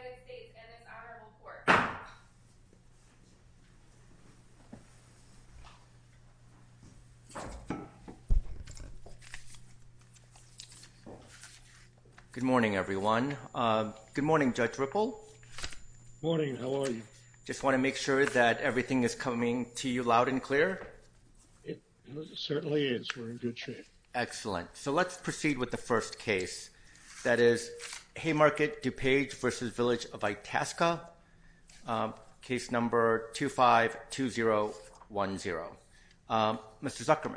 Good morning everyone. Good morning Judge Ripple. Morning, how are you? Just want to make sure that everything is coming to you loud and clear. It certainly is. We're in good shape. Excellent. So today we're going to be looking at the case of Village of Itasca, case number 252010. Mr. Zuckerman.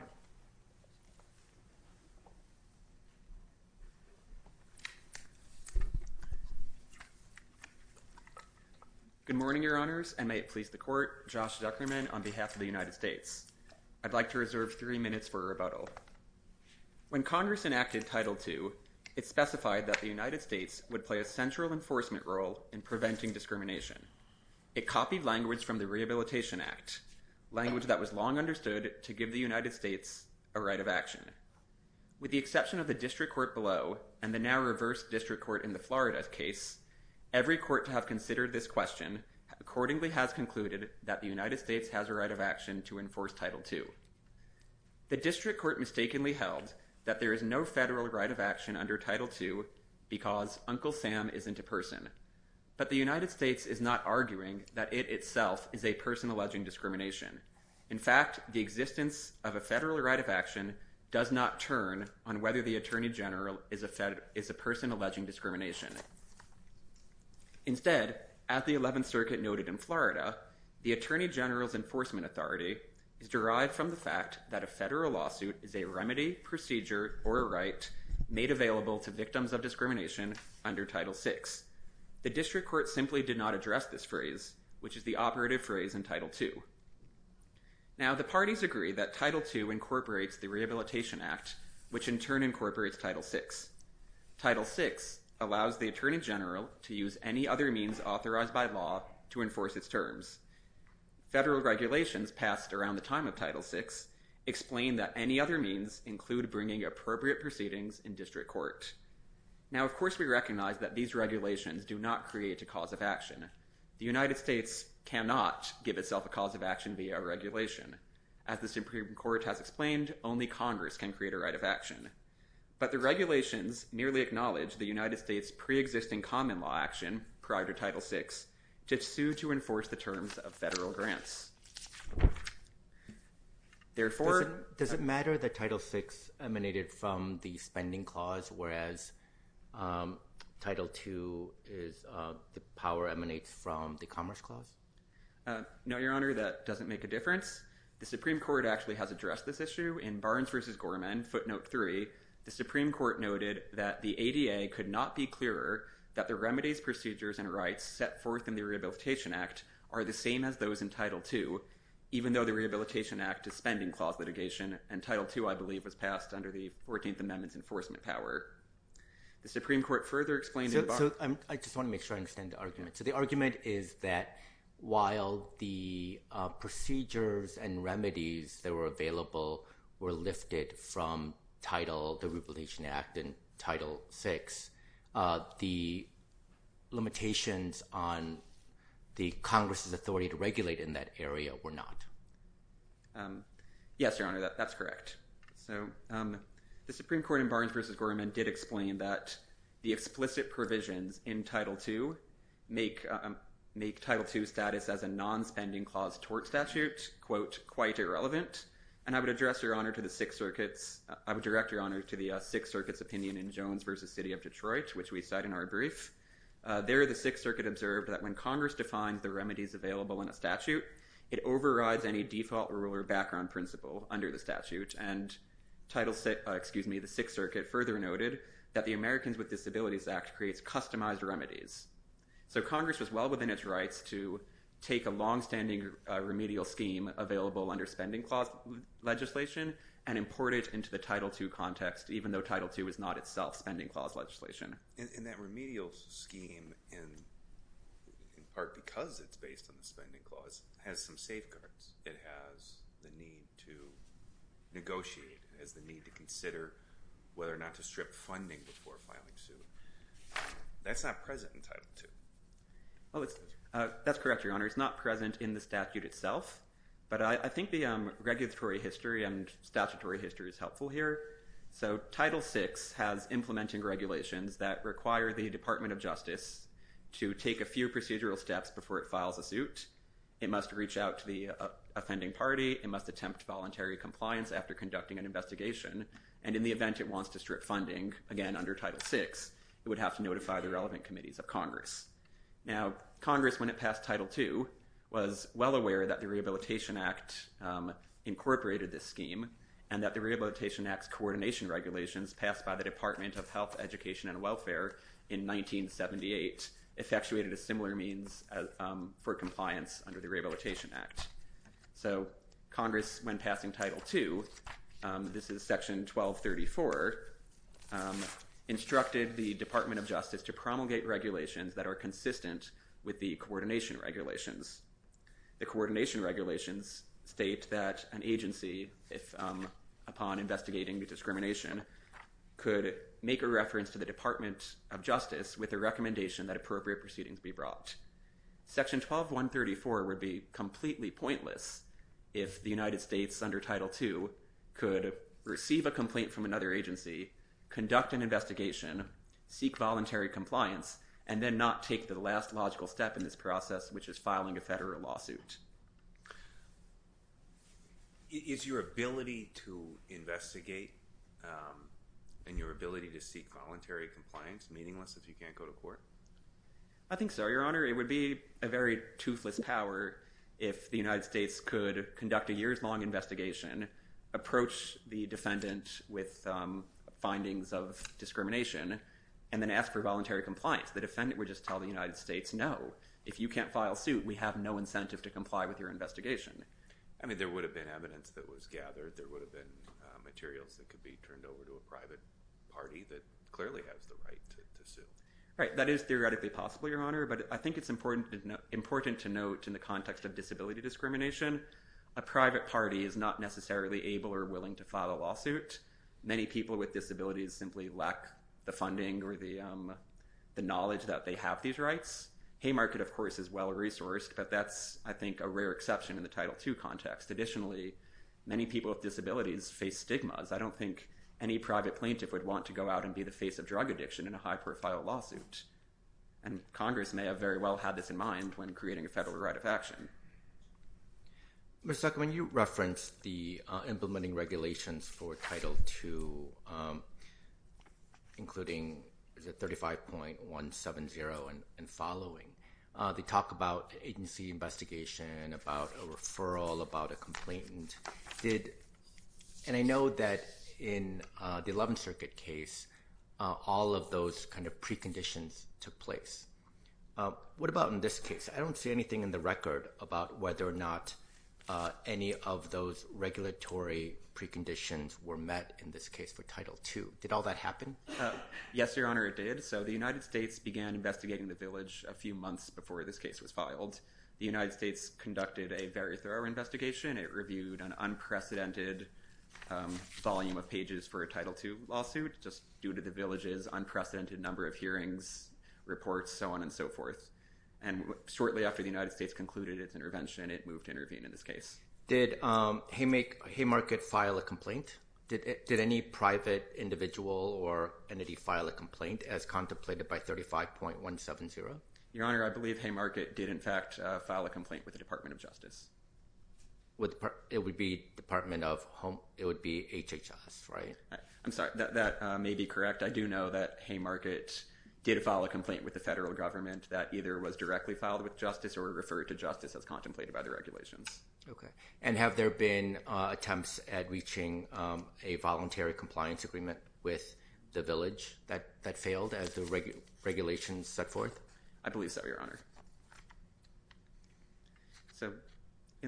Good morning, Your Honors, and may it please the Court, Josh Zuckerman on behalf of the United States. I'd like to reserve three minutes for rebuttal. When Congress enacted Title II, it specified that the United States would play a central enforcement role in preventing discrimination. It copied language from the Rehabilitation Act, language that was long understood to give the United States a right of action. With the exception of the district court below and the now reversed district court in the Florida case, every court to have considered this question accordingly has concluded that the United States has a right of action to enforce Title II. The district court mistakenly held that there is no federal right of action under Title II because Uncle Sam isn't a person. But the United States is not arguing that it itself is a person alleging discrimination. In fact, the existence of a federal right of action does not turn on whether the Attorney General is a person alleging discrimination. Instead, as the 11th Circuit noted in Florida, the Attorney General's enforcement authority is derived from the fact that a federal lawsuit is a remedy, procedure, or a right made available to victims of discrimination under Title VI. The district court simply did not address this phrase, which is the operative phrase in Title II. Now, the parties agree that Title II incorporates the Rehabilitation Act, which in turn incorporates Title VI. Title VI allows the Attorney General to use any other means authorized by law to enforce its terms. Federal regulations passed around the time of Title VI explain that any other means include bringing appropriate proceedings in district court. Now, of course, we recognize that these regulations do not create a cause of action. The United States cannot give itself a cause of action via a regulation. As the Supreme Court has explained, only Congress can create a right of action. But the regulations merely acknowledge the United States' preexisting common law action prior to Title VI to sue to enforce the terms of federal grants. Does it matter that Title VI emanated from the Spending Clause, whereas Title II's power emanates from the Commerce Clause? No, Your Honor, that doesn't make a difference. The Supreme Court actually has addressed this issue in Barnes v. Gorman, footnote 3. The Supreme Court noted that the ADA could not be clearer that the remedies, procedures, and rights set forth in the Rehabilitation Act are the same as those in Title II, even though the Rehabilitation Act is Spending Clause litigation, and Title II, I believe, was passed under the 14th Amendment's enforcement power. I just want to make sure I understand the argument. So the argument is that while the procedures and remedies that were available were lifted from the Rehabilitation Act and Title VI, the limitations on the Congress' authority to regulate in that area were not? Yes, Your Honor, that's correct. So the Supreme Court in Barnes v. Gorman did explain that the explicit provisions in Title II make Title II status as a non-spending clause tort statute, quote, quite irrelevant. And I would address, Your Honor, to the Sixth Circuit's – I would direct, Your Honor, to the Sixth Circuit's opinion in Jones v. City of Detroit, which we cite in our brief. There, the Sixth Circuit observed that when Congress defines the remedies available in a statute, it overrides any default rule or background principle under the statute. And Title – excuse me, the Sixth Circuit further noted that the Americans with Disabilities Act creates customized remedies. So Congress was well within its rights to take a longstanding remedial scheme available under Spending Clause legislation and import it into the Title II context, even though Title II is not itself Spending Clause legislation. And that remedial scheme, in part because it's based on the Spending Clause, has some safeguards. It has the need to negotiate. It has the need to consider whether or not to strip funding before filing suit. That's not present in Title II. Oh, it's – that's correct, Your Honor. It's not present in the statute itself. But I think the regulatory history and statutory history is helpful here. So Title VI has implementing regulations that require the Department of Justice to take a few procedural steps before it files a suit. It must reach out to the offending party. It must attempt voluntary compliance after conducting an investigation. And in the event it wants to strip funding, again, under Title VI, it would have to notify the relevant committees of Congress. Now, Congress, when it passed Title II, was well aware that the Rehabilitation Act incorporated this scheme and that the Rehabilitation Act's coordination regulations passed by the Department of Health, Education, and Welfare in 1978 effectuated a similar means for compliance under the Rehabilitation Act. So Congress, when passing Title II – this is Section 1234 – instructed the Department of Justice to promulgate regulations that are consistent with the coordination regulations. The coordination regulations state that an agency, upon investigating the discrimination, could make a reference to the Department of Justice with a recommendation that appropriate proceedings be brought. Section 12134 would be completely pointless if the United States, under Title II, could receive a complaint from another agency, conduct an investigation, seek voluntary compliance, and then not take the last logical step in this process, which is filing a federal lawsuit. Is your ability to investigate and your ability to seek voluntary compliance meaningless if you can't go to court? I think so, Your Honor. It would be a very toothless power if the United States could conduct a years-long investigation, approach the defendant with findings of discrimination, and then ask for voluntary compliance. The defendant would just tell the United States, no, if you can't file suit, we have no incentive to comply with your investigation. I mean, there would have been evidence that was gathered. There would have been materials that could be turned over to a private party that clearly has the right to sue. Right, that is theoretically possible, Your Honor, but I think it's important to note in the context of disability discrimination, a private party is not necessarily able or willing to file a lawsuit. Many people with disabilities simply lack the funding or the knowledge that they have these rights. Haymarket, of course, is well-resourced, but that's, I think, a rare exception in the Title II context. Additionally, many people with disabilities face stigmas. I don't think any private plaintiff would want to go out and be the face of drug addiction in a high-profile lawsuit, and Congress may have very well had this in mind when creating a federal right of action. Mr. Zuckerman, you referenced the implementing regulations for Title II, including the 35.170 and following. They talk about agency investigation, about a referral, about a complainant. And I know that in the 11th Circuit case, all of those kind of preconditions took place. What about in this case? I don't see anything in the record about whether or not any of those regulatory preconditions were met in this case for Title II. Did all that happen? Yes, Your Honor, it did. So the United States began investigating the village a few months before this case was filed. The United States conducted a very thorough investigation. It reviewed an unprecedented volume of pages for a Title II lawsuit just due to the village's unprecedented number of hearings, reports, so on and so forth. And shortly after the United States concluded its intervention, it moved to intervene in this case. Did Haymarket file a complaint? Did any private individual or entity file a complaint as contemplated by 35.170? Your Honor, I believe Haymarket did in fact file a complaint with the Department of Justice. It would be HHS, right? I'm sorry, that may be correct. I do know that Haymarket did file a complaint with the federal government that either was directly filed with justice or referred to justice as contemplated by the regulations. Okay. And have there been attempts at reaching a voluntary compliance agreement with the village that failed as the regulations set forth? I believe so, Your Honor. So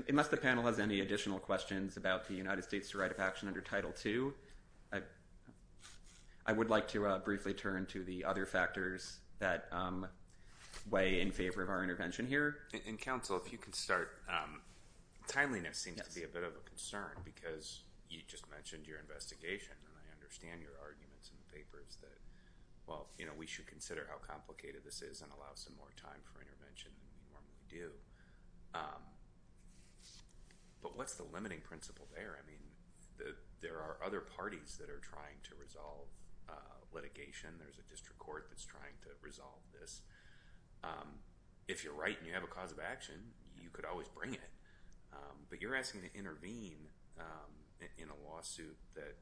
unless the panel has any additional questions about the United States' right of action under Title II, I would like to briefly turn to the other factors that weigh in favor of our intervention here. And Counsel, if you could start. Timeliness seems to be a bit of a concern because you just mentioned your investigation, and I understand your arguments in the papers that, well, you know, we should consider how complicated this is and allow some more time for intervention than we normally do. But what's the limiting principle there? I mean, there are other parties that are trying to resolve litigation. There's a district court that's trying to resolve this. If you're right and you have a cause of action, you could always bring it. But you're asking to intervene in a lawsuit that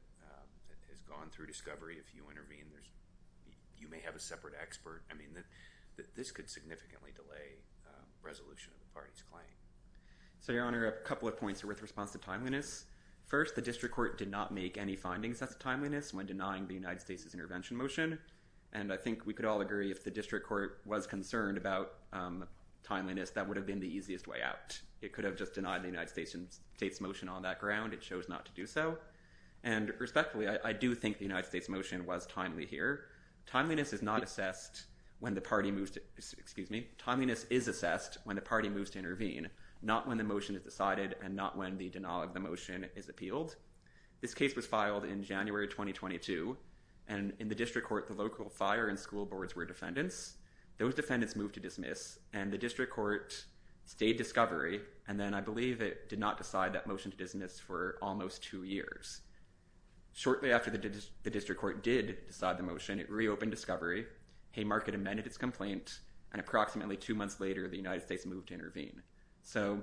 has gone through discovery. If you intervene, you may have a separate expert. I mean, this could significantly delay resolution of the party's claim. So, Your Honor, a couple of points are worth response to timeliness. First, the district court did not make any findings as to timeliness when denying the United States' intervention motion. And I think we could all agree if the district court was concerned about timeliness, that would have been the easiest way out. It could have just denied the United States' motion on that ground. It chose not to do so. And respectfully, I do think the United States' motion was timely here. Timeliness is assessed when the party moves to intervene, not when the motion is decided and not when the denial of the motion is appealed. This case was filed in January 2022. And in the district court, the local fire and school boards were defendants. Those defendants moved to dismiss, and the district court stayed discovery. And then I believe it did not decide that motion to dismiss for almost two years. Shortly after the district court did decide the motion, it reopened discovery, Haymarket amended its complaint, and approximately two months later, the United States moved to intervene. So,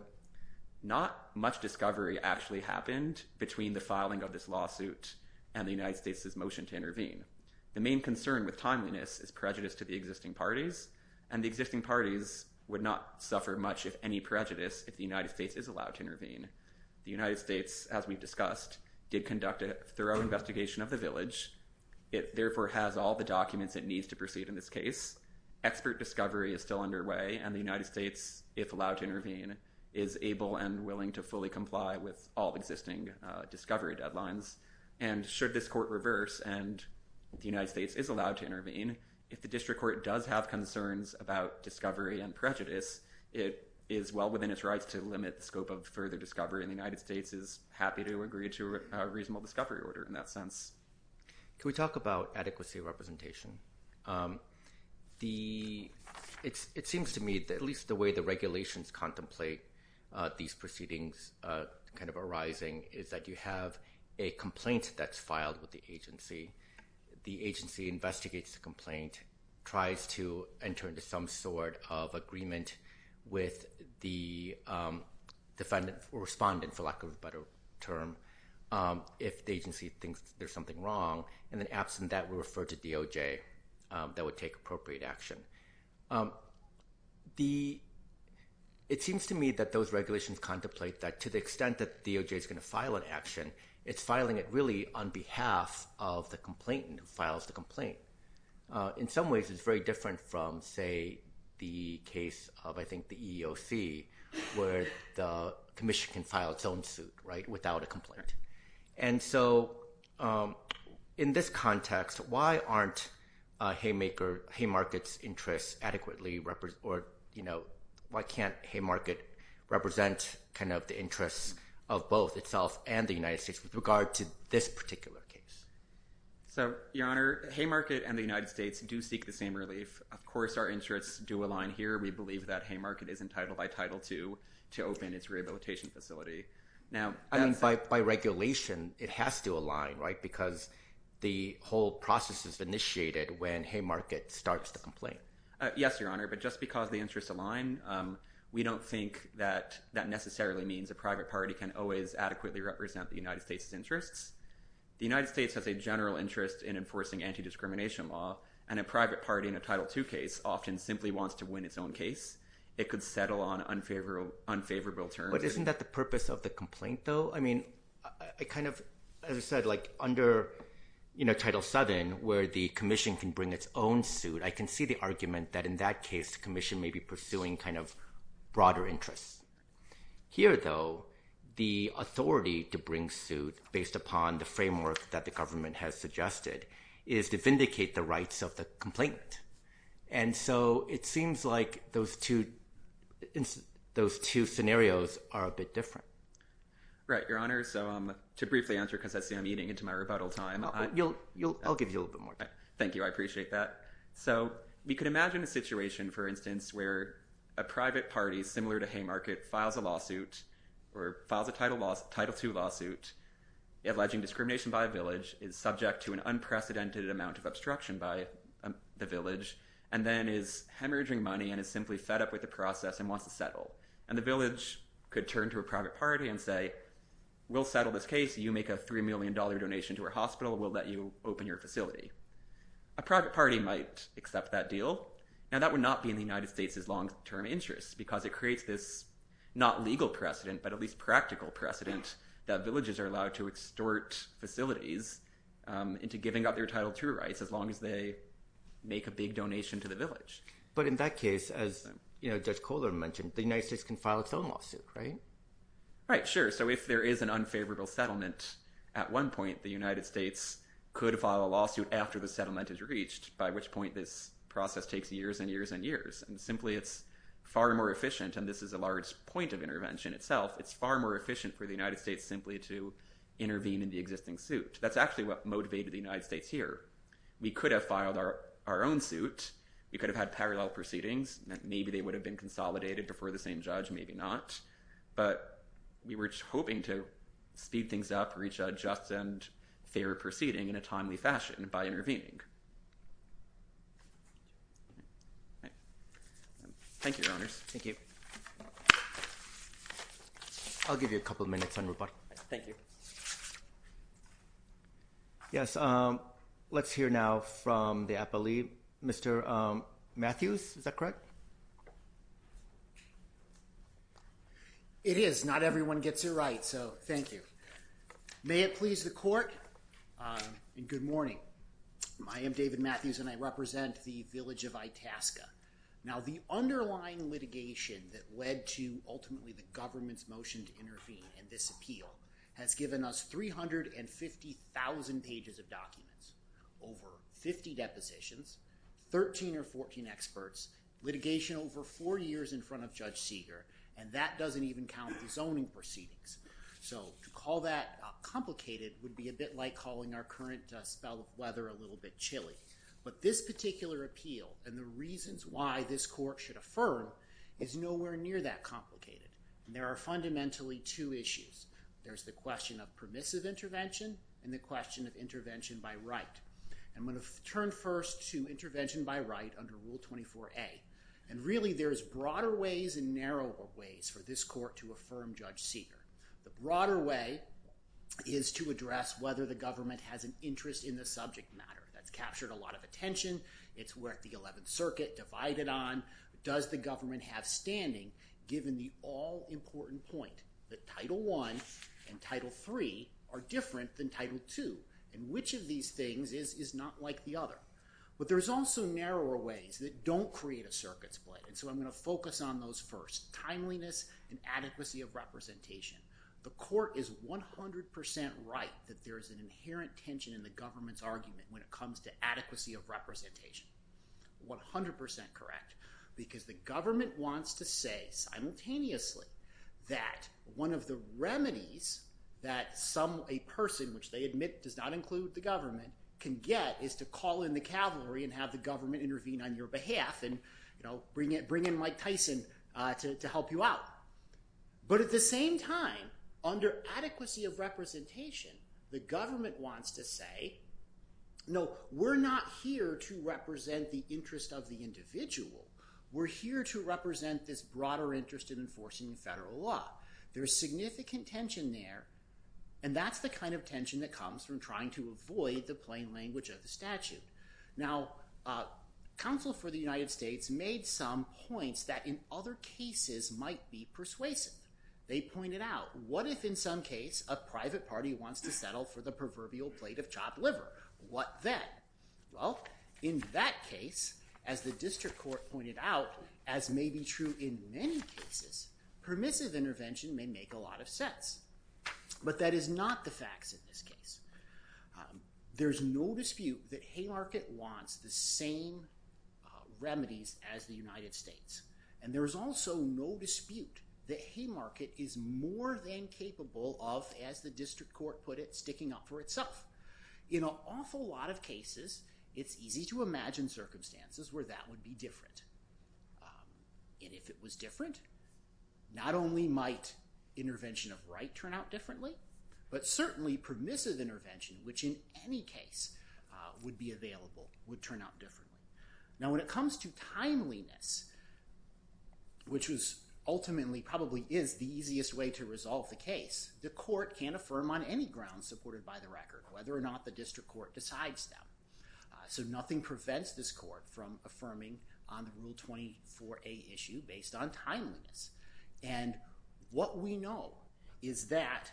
not much discovery actually happened between the filing of this lawsuit and the United States' motion to intervene. The main concern with timeliness is prejudice to the existing parties, and the existing parties would not suffer much if any prejudice if the United States is allowed to intervene. The United States, as we've discussed, did conduct a thorough investigation of the village. It therefore has all the documents it needs to proceed in this case. Expert discovery is still underway, and the United States, if allowed to intervene, is able and willing to fully comply with all existing discovery deadlines. And should this court reverse and the United States is allowed to intervene, if the district court does have concerns about discovery and prejudice, it is well within its rights to limit the scope of further discovery, and the United States is happy to agree to a reasonable discovery order in that sense. Can we talk about adequacy of representation? It seems to me that at least the way the regulations contemplate these proceedings arising is that you have a complaint that's filed with the agency. The agency investigates the complaint, tries to enter into some sort of agreement with the defendant or respondent, for lack of a better term, if the agency thinks there's something wrong, and then absent that, we refer to DOJ that would take appropriate action. It seems to me that those regulations contemplate that to the extent that DOJ is going to file an action, it's filing it really on behalf of the complainant who files the complaint. In some ways, it's very different from, say, the case of, I think, the EEOC, where the commission can file its own suit without a complaint. In this context, why can't Haymarket represent the interests of both itself and the United States with regard to this particular case? Your Honor, Haymarket and the United States do seek the same relief. Of course, our interests do align here. We believe that Haymarket is entitled by Title II to open its rehabilitation facility. By regulation, it has to align because the whole process is initiated when Haymarket starts the complaint. Yes, Your Honor, but just because the interests align, we don't think that that necessarily means a private party can always adequately represent the United States' interests. The United States has a general interest in enforcing anti-discrimination law, and a private party in a Title II case often simply wants to win its own case. It could settle on unfavorable terms. But isn't that the purpose of the complaint, though? I mean, as I said, under Title VII, where the commission can bring its own suit, I can see the argument that, in that case, the commission may be pursuing broader interests. Here, though, the authority to bring suit, based upon the framework that the government has suggested, is to vindicate the rights of the complainant. And so it seems like those two scenarios are a bit different. Right, Your Honor. So to briefly answer, because I see I'm eating into my rebuttal time. I'll give you a little bit more time. Thank you. I appreciate that. So we could imagine a situation, for instance, where a private party, similar to Haymarket, files a lawsuit, or files a Title II lawsuit, alleging discrimination by a village, is subject to an unprecedented amount of obstruction by the village, and then is hemorrhaging money and is simply fed up with the process and wants to settle. And the village could turn to a private party and say, we'll settle this case. You make a $3 million donation to our hospital. We'll let you open your facility. A private party might accept that deal. Now, that would not be in the United States' long-term interest, because it creates this not legal precedent, but at least practical precedent, that villages are allowed to extort facilities into giving up their Title II rights as long as they make a big donation to the village. But in that case, as Judge Kohler mentioned, the United States can file its own lawsuit, right? Right. Sure. So if there is an unfavorable settlement at one point, the United States could file a lawsuit after the settlement is reached, by which point this process takes years and years and years. And simply, it's far more efficient, and this is a large point of intervention itself. It's far more efficient for the United States simply to intervene in the existing suit. That's actually what motivated the United States here. We could have filed our own suit. We could have had parallel proceedings. Maybe they would have been consolidated before the same judge, maybe not. But we were just hoping to speed things up, reach a just and fair proceeding in a timely fashion by intervening. Thank you, Your Honors. Thank you. I'll give you a couple minutes on report. Thank you. Yes, let's hear now from the appellee. Mr. Matthews, is that correct? It is. Not everyone gets a right, so thank you. May it please the court, and good morning. I am David Matthews, and I represent the village of Itasca. Now, the underlying litigation that led to ultimately the government's motion to intervene in this appeal has given us 350,000 pages of documents, over 50 depositions, 13 or 14 experts, litigation over four years in front of Judge Seeger, and that doesn't even count the zoning proceedings. So to call that complicated would be a bit like calling our current spell of weather a little bit chilly. But this particular appeal and the reasons why this court should affirm is nowhere near that complicated. There are fundamentally two issues. There's the question of permissive intervention and the question of intervention by right. I'm going to turn first to intervention by right under Rule 24a. And really, there's broader ways and narrower ways for this court to affirm Judge Seeger. The broader way is to address whether the government has an interest in the subject matter. That's captured a lot of attention. It's worth the 11th Circuit divided on. Does the government have standing, given the all-important point that Title I and Title III are different than Title II, and which of these things is not like the other? But there's also narrower ways that don't create a circuit split, and so I'm going to focus on those first. Timeliness and adequacy of representation. The court is 100% right that there is an inherent tension in the government's argument when it comes to adequacy of representation. 100% correct. Because the government wants to say simultaneously that one of the remedies that a person, which they admit does not include the government, can get is to call in the cavalry and have the government intervene on your behalf and bring in Mike Tyson to help you out. But at the same time, under adequacy of representation, the government wants to say, no, we're not here to represent the interest of the individual. We're here to represent this broader interest in enforcing federal law. There's significant tension there, and that's the kind of tension that comes from trying to avoid the plain language of the statute. Now, counsel for the United States made some points that in other cases might be persuasive. They pointed out, what if in some case a private party wants to settle for the proverbial plate of chopped liver? What then? Well, in that case, as the district court pointed out, as may be true in many cases, permissive intervention may make a lot of sense. But that is not the facts in this case. There's no dispute that Haymarket wants the same remedies as the United States, and there's also no dispute that Haymarket is more than capable of, as the district court put it, sticking up for itself. In an awful lot of cases, it's easy to imagine circumstances where that would be different. And if it was different, not only might intervention of right turn out differently, but certainly permissive intervention, which in any case would be available, would turn out differently. Now, when it comes to timeliness, which ultimately probably is the easiest way to resolve the case, the court can affirm on any grounds supported by the record whether or not the district court decides them. So nothing prevents this court from affirming on the Rule 24a issue based on timeliness. And what we know is that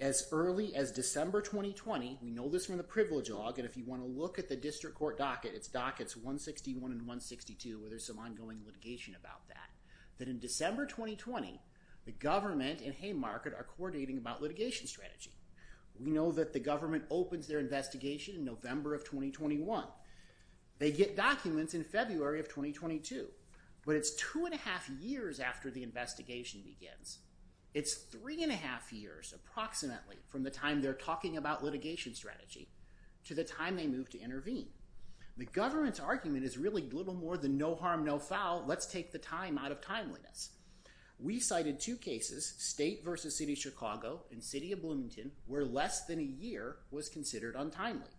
as early as December 2020, we know this from the privilege log, and if you want to look at the district court docket, it's dockets 161 and 162, where there's some ongoing litigation about that, that in December 2020, the government and Haymarket are coordinating about litigation strategy. We know that the government opens their investigation in November of 2021. They get documents in February of 2022, but it's two and a half years after the investigation begins. It's three and a half years approximately from the time they're talking about litigation strategy to the time they move to intervene. The government's argument is really little more than no harm, no foul. Let's take the time out of timeliness. We cited two cases, State v. City of Chicago and City of Bloomington, where less than a year was considered untimely.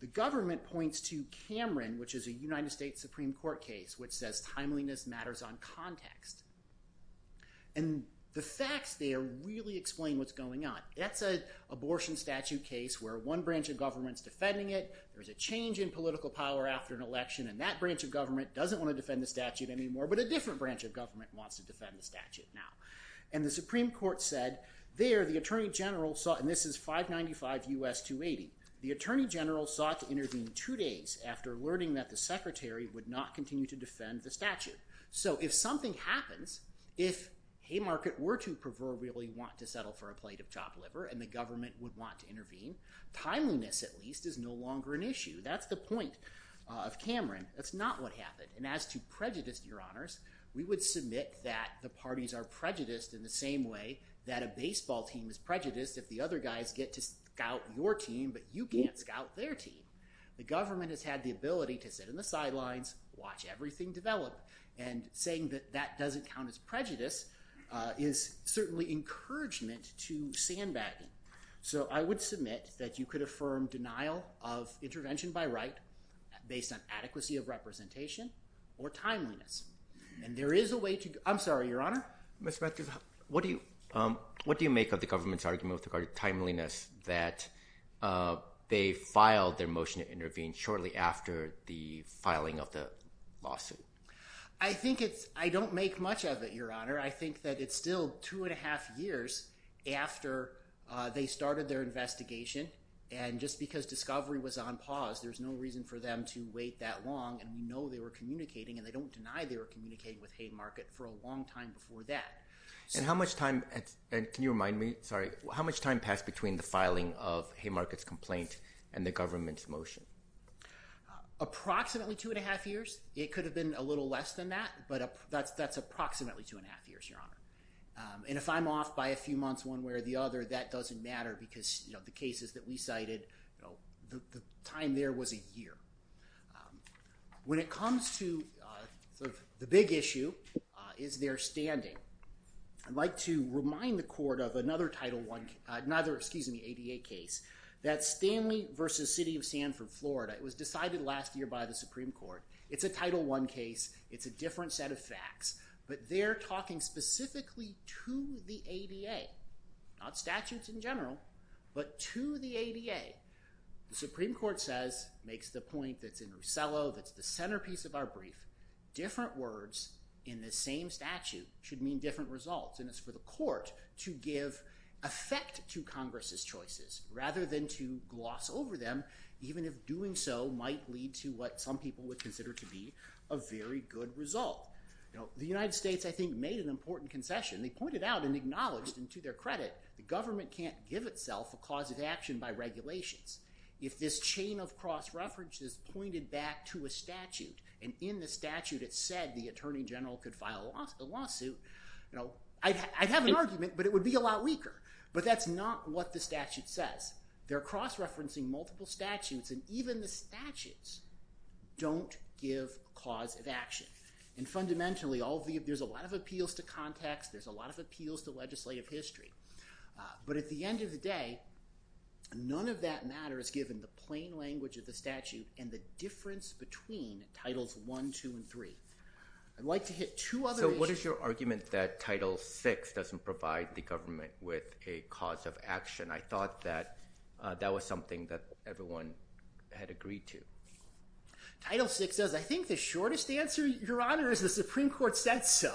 The government points to Cameron, which is a United States Supreme Court case, which says timeliness matters on context. And the facts there really explain what's going on. That's an abortion statute case where one branch of government's defending it, there's a change in political power after an election, and that branch of government doesn't want to defend the statute anymore, but a different branch of government wants to defend the statute now. And the Supreme Court said there, the Attorney General, and this is 595 U.S. 280, the Attorney General sought to intervene two days after learning that the Secretary would not continue to defend the statute. So if something happens, if Haymarket were to proverbially want to settle for a plate of chopped liver and the government would want to intervene, timeliness at least is no longer an issue. That's the point of Cameron. That's not what happened. And as to prejudice, Your Honors, we would submit that the parties are prejudiced in the same way that a baseball team is prejudiced if the other guys get to scout your team but you can't scout their team. The government has had the ability to sit on the sidelines, watch everything develop, and saying that that doesn't count as prejudice is certainly encouragement to sandbagging. So I would submit that you could affirm denial of intervention by right based on adequacy of representation or timeliness. And there is a way to—I'm sorry, Your Honor? Mr. Matthews, what do you make of the government's argument with regard to timeliness that they filed their motion to intervene shortly after the filing of the lawsuit? I think it's—I don't make much of it, Your Honor. I think that it's still two and a half years after they started their investigation and just because discovery was on pause, there's no reason for them to wait that long and we know they were communicating and they don't deny they were communicating with Haymarket for a long time before that. And how much time—and can you remind me? Sorry. How much time passed between the filing of Haymarket's complaint and the government's motion? Approximately two and a half years. It could have been a little less than that, but that's approximately two and a half years, Your Honor. And if I'm off by a few months one way or the other, that doesn't matter because the cases that we cited, the time there was a year. When it comes to sort of the big issue is their standing, I'd like to remind the court of another Title I—another, excuse me, ADA case. That's Stanley v. City of Sanford, Florida. It was decided last year by the Supreme Court. It's a Title I case. It's a different set of facts, but they're talking specifically to the ADA, not statutes in general, but to the ADA. The Supreme Court says—makes the point that's in Rusello, that's the centerpiece of our brief—different words in the same statute should mean different results. And it's for the court to give effect to Congress's choices rather than to gloss over them, even if doing so might lead to what some people would consider to be a very good result. The United States, I think, made an important concession. They pointed out and acknowledged, and to their credit, the government can't give itself a cause of action by regulations. If this chain of cross-references pointed back to a statute and in the statute it said the Attorney General could file a lawsuit, I'd have an argument, but it would be a lot weaker. But that's not what the statute says. They're cross-referencing multiple statutes, and even the statutes don't give cause of action. And fundamentally, there's a lot of appeals to context. There's a lot of appeals to legislative history. But at the end of the day, none of that matter is given the plain language of the statute and the difference between Titles I, II, and III. I'd like to hit two other— So what is your argument that Title VI doesn't provide the government with a cause of action? I thought that that was something that everyone had agreed to. Title VI does. I think the shortest answer, Your Honor, is the Supreme Court said so.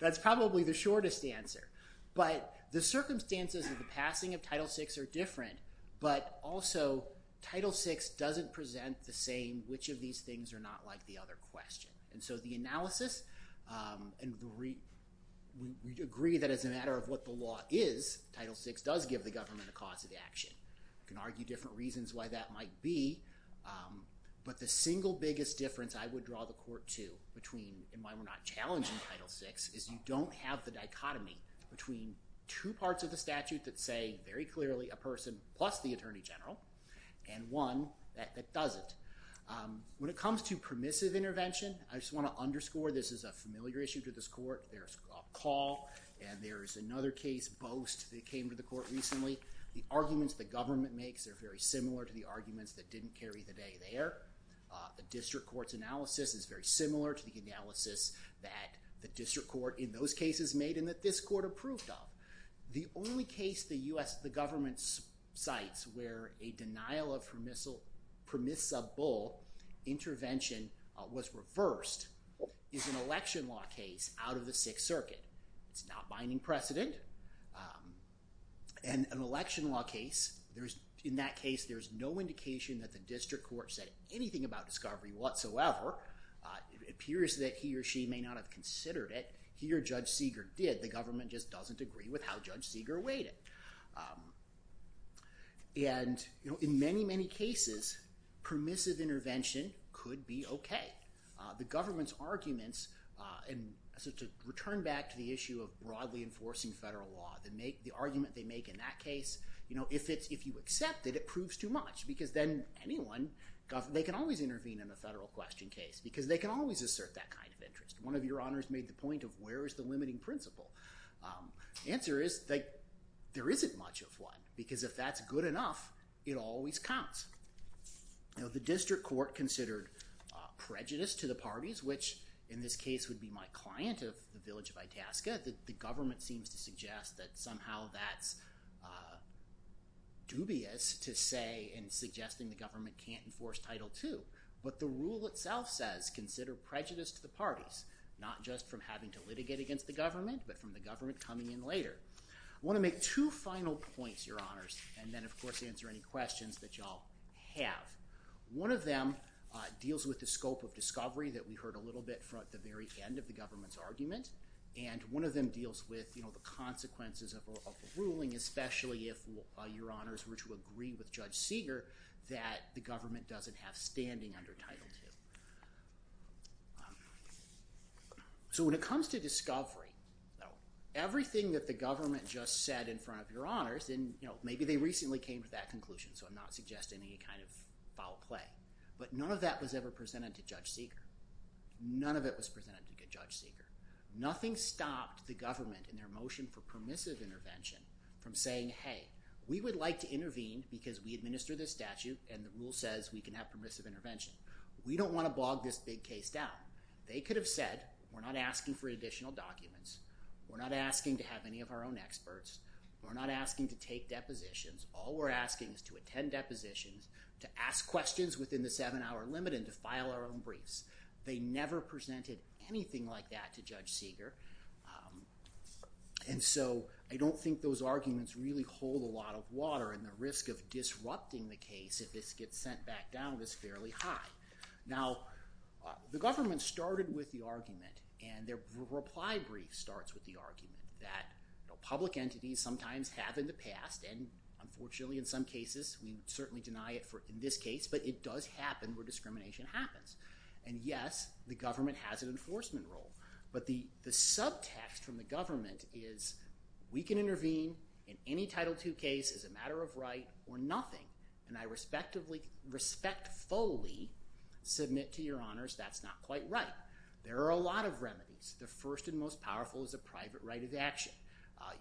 That's probably the shortest answer. But the circumstances of the passing of Title VI are different, but also Title VI doesn't present the same, which of these things are not like the other question. And so the analysis—and we agree that as a matter of what the law is, Title VI does give the government a cause of action. We can argue different reasons why that might be. But the single biggest difference I would draw the Court to between—and why we're not challenging Title VI— is you don't have the dichotomy between two parts of the statute that say, very clearly, a person plus the Attorney General, and one that doesn't. When it comes to permissive intervention, I just want to underscore this is a familiar issue to this Court. There's a call, and there's another case, Boast, that came to the Court recently. The arguments the government makes are very similar to the arguments that didn't carry the day there. The District Court's analysis is very similar to the analysis that the District Court in those cases made and that this Court approved of. The only case the government cites where a denial of permissible intervention was reversed is an election law case out of the Sixth Circuit. It's not binding precedent. In an election law case, in that case, there's no indication that the District Court said anything about discovery whatsoever. It appears that he or she may not have considered it. He or Judge Seeger did. The government just doesn't agree with how Judge Seeger weighed it. In many, many cases, permissive intervention could be okay. To return back to the issue of broadly enforcing federal law, the argument they make in that case, if you accept it, it proves too much. They can always intervene in a federal question case because they can always assert that kind of interest. One of your honors made the point of where is the limiting principle. The answer is there isn't much of one because if that's good enough, it always counts. The District Court considered prejudice to the parties, which in this case would be my client of the village of Itasca. The government seems to suggest that somehow that's dubious to say in suggesting the government can't enforce Title II. But the rule itself says consider prejudice to the parties, not just from having to litigate against the government, but from the government coming in later. I want to make two final points, your honors, and then of course answer any questions that you all have. One of them deals with the scope of discovery that we heard a little bit from at the very end of the government's argument. One of them deals with the consequences of a ruling, especially if your honors were to agree with Judge Seeger that the government doesn't have standing under Title II. So when it comes to discovery, everything that the government just said in front of your honors – and maybe they recently came to that conclusion, so I'm not suggesting any kind of foul play – but none of that was ever presented to Judge Seeger. None of it was presented to Judge Seeger. Nothing stopped the government in their motion for permissive intervention from saying, hey, we would like to intervene because we administer this statute and the rule says we can have permissive intervention. We don't want to bog this big case down. They could have said, we're not asking for additional documents. We're not asking to have any of our own experts. We're not asking to take depositions. All we're asking is to attend depositions, to ask questions within the seven-hour limit, and to file our own briefs. They never presented anything like that to Judge Seeger. And so I don't think those arguments really hold a lot of water, and the risk of disrupting the case if this gets sent back down is fairly high. Now, the government started with the argument, and their reply brief starts with the argument that public entities sometimes have in the past, and unfortunately in some cases we certainly deny it in this case, but it does happen where discrimination happens. And yes, the government has an enforcement role. But the subtext from the government is we can intervene in any Title II case as a matter of right or nothing, and I respectfully, respectfully submit to your honors that's not quite right. There are a lot of remedies. The first and most powerful is a private right of action.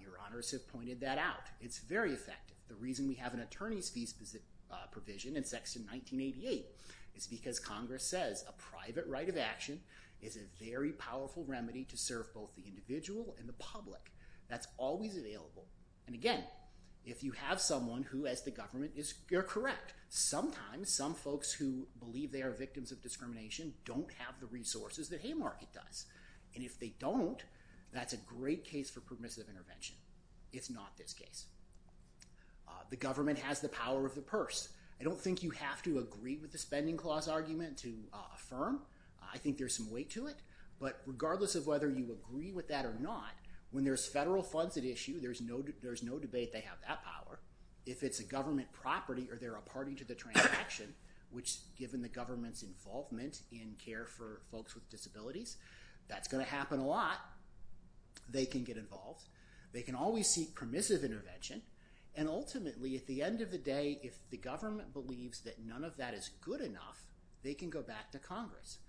Your honors have pointed that out. It's very effective. The reason we have an attorney's fee provision in Section 1988 is because Congress says a private right of action is a very powerful remedy to serve both the individual and the public. That's always available. And again, if you have someone who, as the government, is correct, sometimes some folks who believe they are victims of discrimination don't have the resources that Haymarket does. And if they don't, that's a great case for permissive intervention. It's not this case. The government has the power of the purse. I don't think you have to agree with the spending clause argument to affirm. I think there's some weight to it. But regardless of whether you agree with that or not, when there's federal funds at issue, there's no debate they have that power. If it's a government property or they're a party to the transaction, which given the government's involvement in care for folks with disabilities, that's going to happen a lot, they can get involved. They can always seek permissive intervention. And ultimately, at the end of the day, if the government believes that none of that is good enough, they can go back to Congress.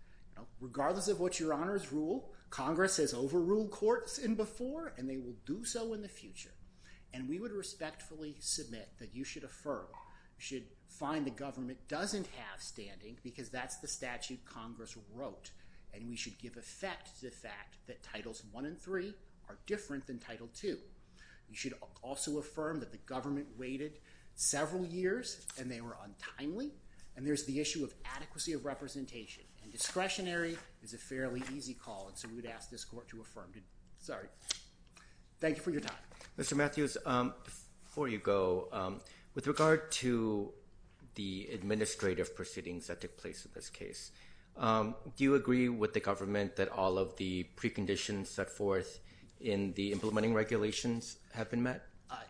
Regardless of what your honors rule, Congress has overruled courts in before, and they will do so in the future. And we would respectfully submit that you should affirm, you should find the government doesn't have standing because that's the statute Congress wrote. And we should give effect to the fact that Titles I and III are different than Title II. You should also affirm that the government waited several years and they were untimely. And there's the issue of adequacy of representation. And discretionary is a fairly easy call, and so we would ask this court to affirm. Thank you for your time. Mr. Matthews, before you go, with regard to the administrative proceedings that took place in this case, do you agree with the government that all of the preconditions set forth in the implementing regulations have been met?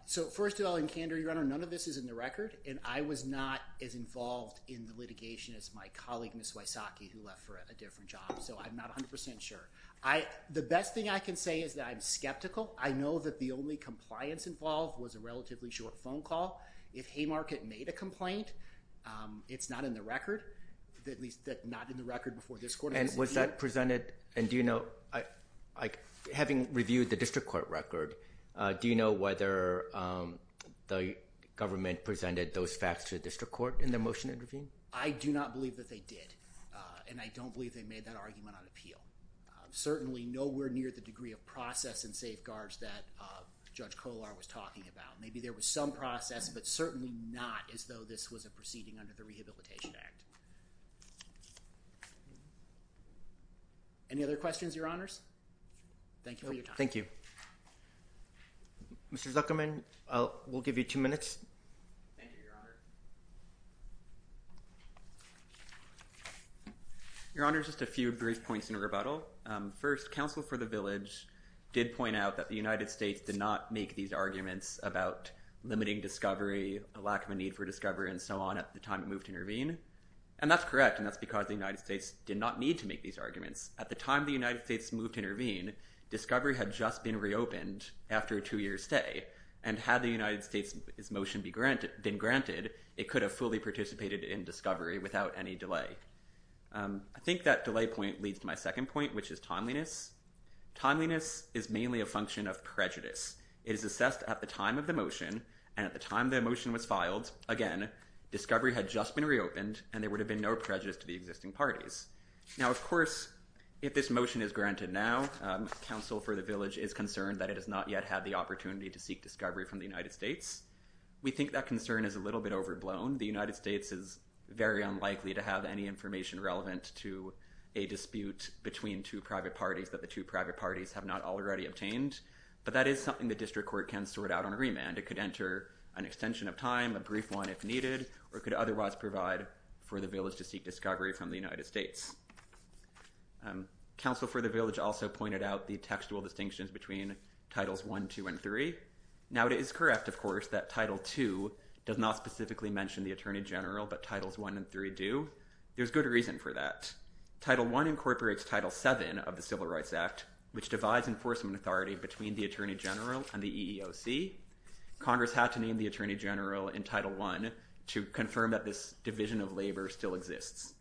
So first of all, in candor, your honor, none of this is in the record. And I was not as involved in the litigation as my colleague, Ms. Wysocki, who left for a different job. So I'm not 100 percent sure. The best thing I can say is that I'm skeptical. I know that the only compliance involved was a relatively short phone call. If Haymarket made a complaint, it's not in the record, at least not in the record before this court. And was that presented? And do you know, having reviewed the district court record, do you know whether the government presented those facts to the district court in the motion intervened? I do not believe that they did. And I don't believe they made that argument on appeal. Certainly nowhere near the degree of process and safeguards that Judge Kollar was talking about. Maybe there was some process, but certainly not as though this was a proceeding under the Rehabilitation Act. Any other questions, your honors? Thank you for your time. Thank you. Mr. Zuckerman, we'll give you two minutes. Thank you, your honor. Your honor, just a few brief points in rebuttal. First, counsel for the village did point out that the United States did not make these arguments about limiting discovery, a lack of a need for discovery, and so on at the time it moved to intervene. And that's correct, and that's because the United States did not need to make these arguments. At the time the United States moved to intervene, discovery had just been reopened after a two-year stay. And had the United States' motion been granted, it could have fully participated in discovery without any delay. I think that delay point leads to my second point, which is timeliness. Timeliness is mainly a function of prejudice. It is assessed at the time of the motion, and at the time the motion was filed, again, discovery had just been reopened, and there would have been no prejudice to the existing parties. Now, of course, if this motion is granted now, counsel for the village is concerned that it has not yet had the opportunity to seek discovery from the United States. We think that concern is a little bit overblown. The United States is very unlikely to have any information relevant to a dispute between two private parties that the two private parties have not already obtained. But that is something the district court can sort out on remand. It could enter an extension of time, a brief one if needed, or it could otherwise provide for the village to seek discovery from the United States. Counsel for the village also pointed out the textual distinctions between titles 1, 2, and 3. Now, it is correct, of course, that title 2 does not specifically mention the attorney general, but titles 1 and 3 do. There's good reason for that. Title 1 incorporates title 7 of the Civil Rights Act, which divides enforcement authority between the attorney general and the EEOC. Congress had to name the attorney general in title 1 to confirm that this division of labor still exists.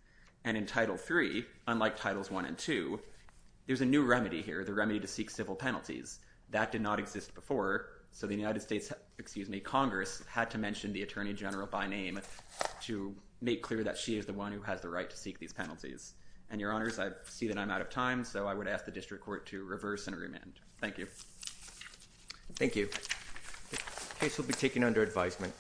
And in title 3, unlike titles 1 and 2, there's a new remedy here, the remedy to seek civil penalties. That did not exist before, so the United States—excuse me, Congress had to mention the attorney general by name to make clear that she is the one who has the right to seek these penalties. And, Your Honors, I see that I'm out of time, so I would ask the district court to reverse and remand. Thank you. Thank you. The case will be taken under advisement.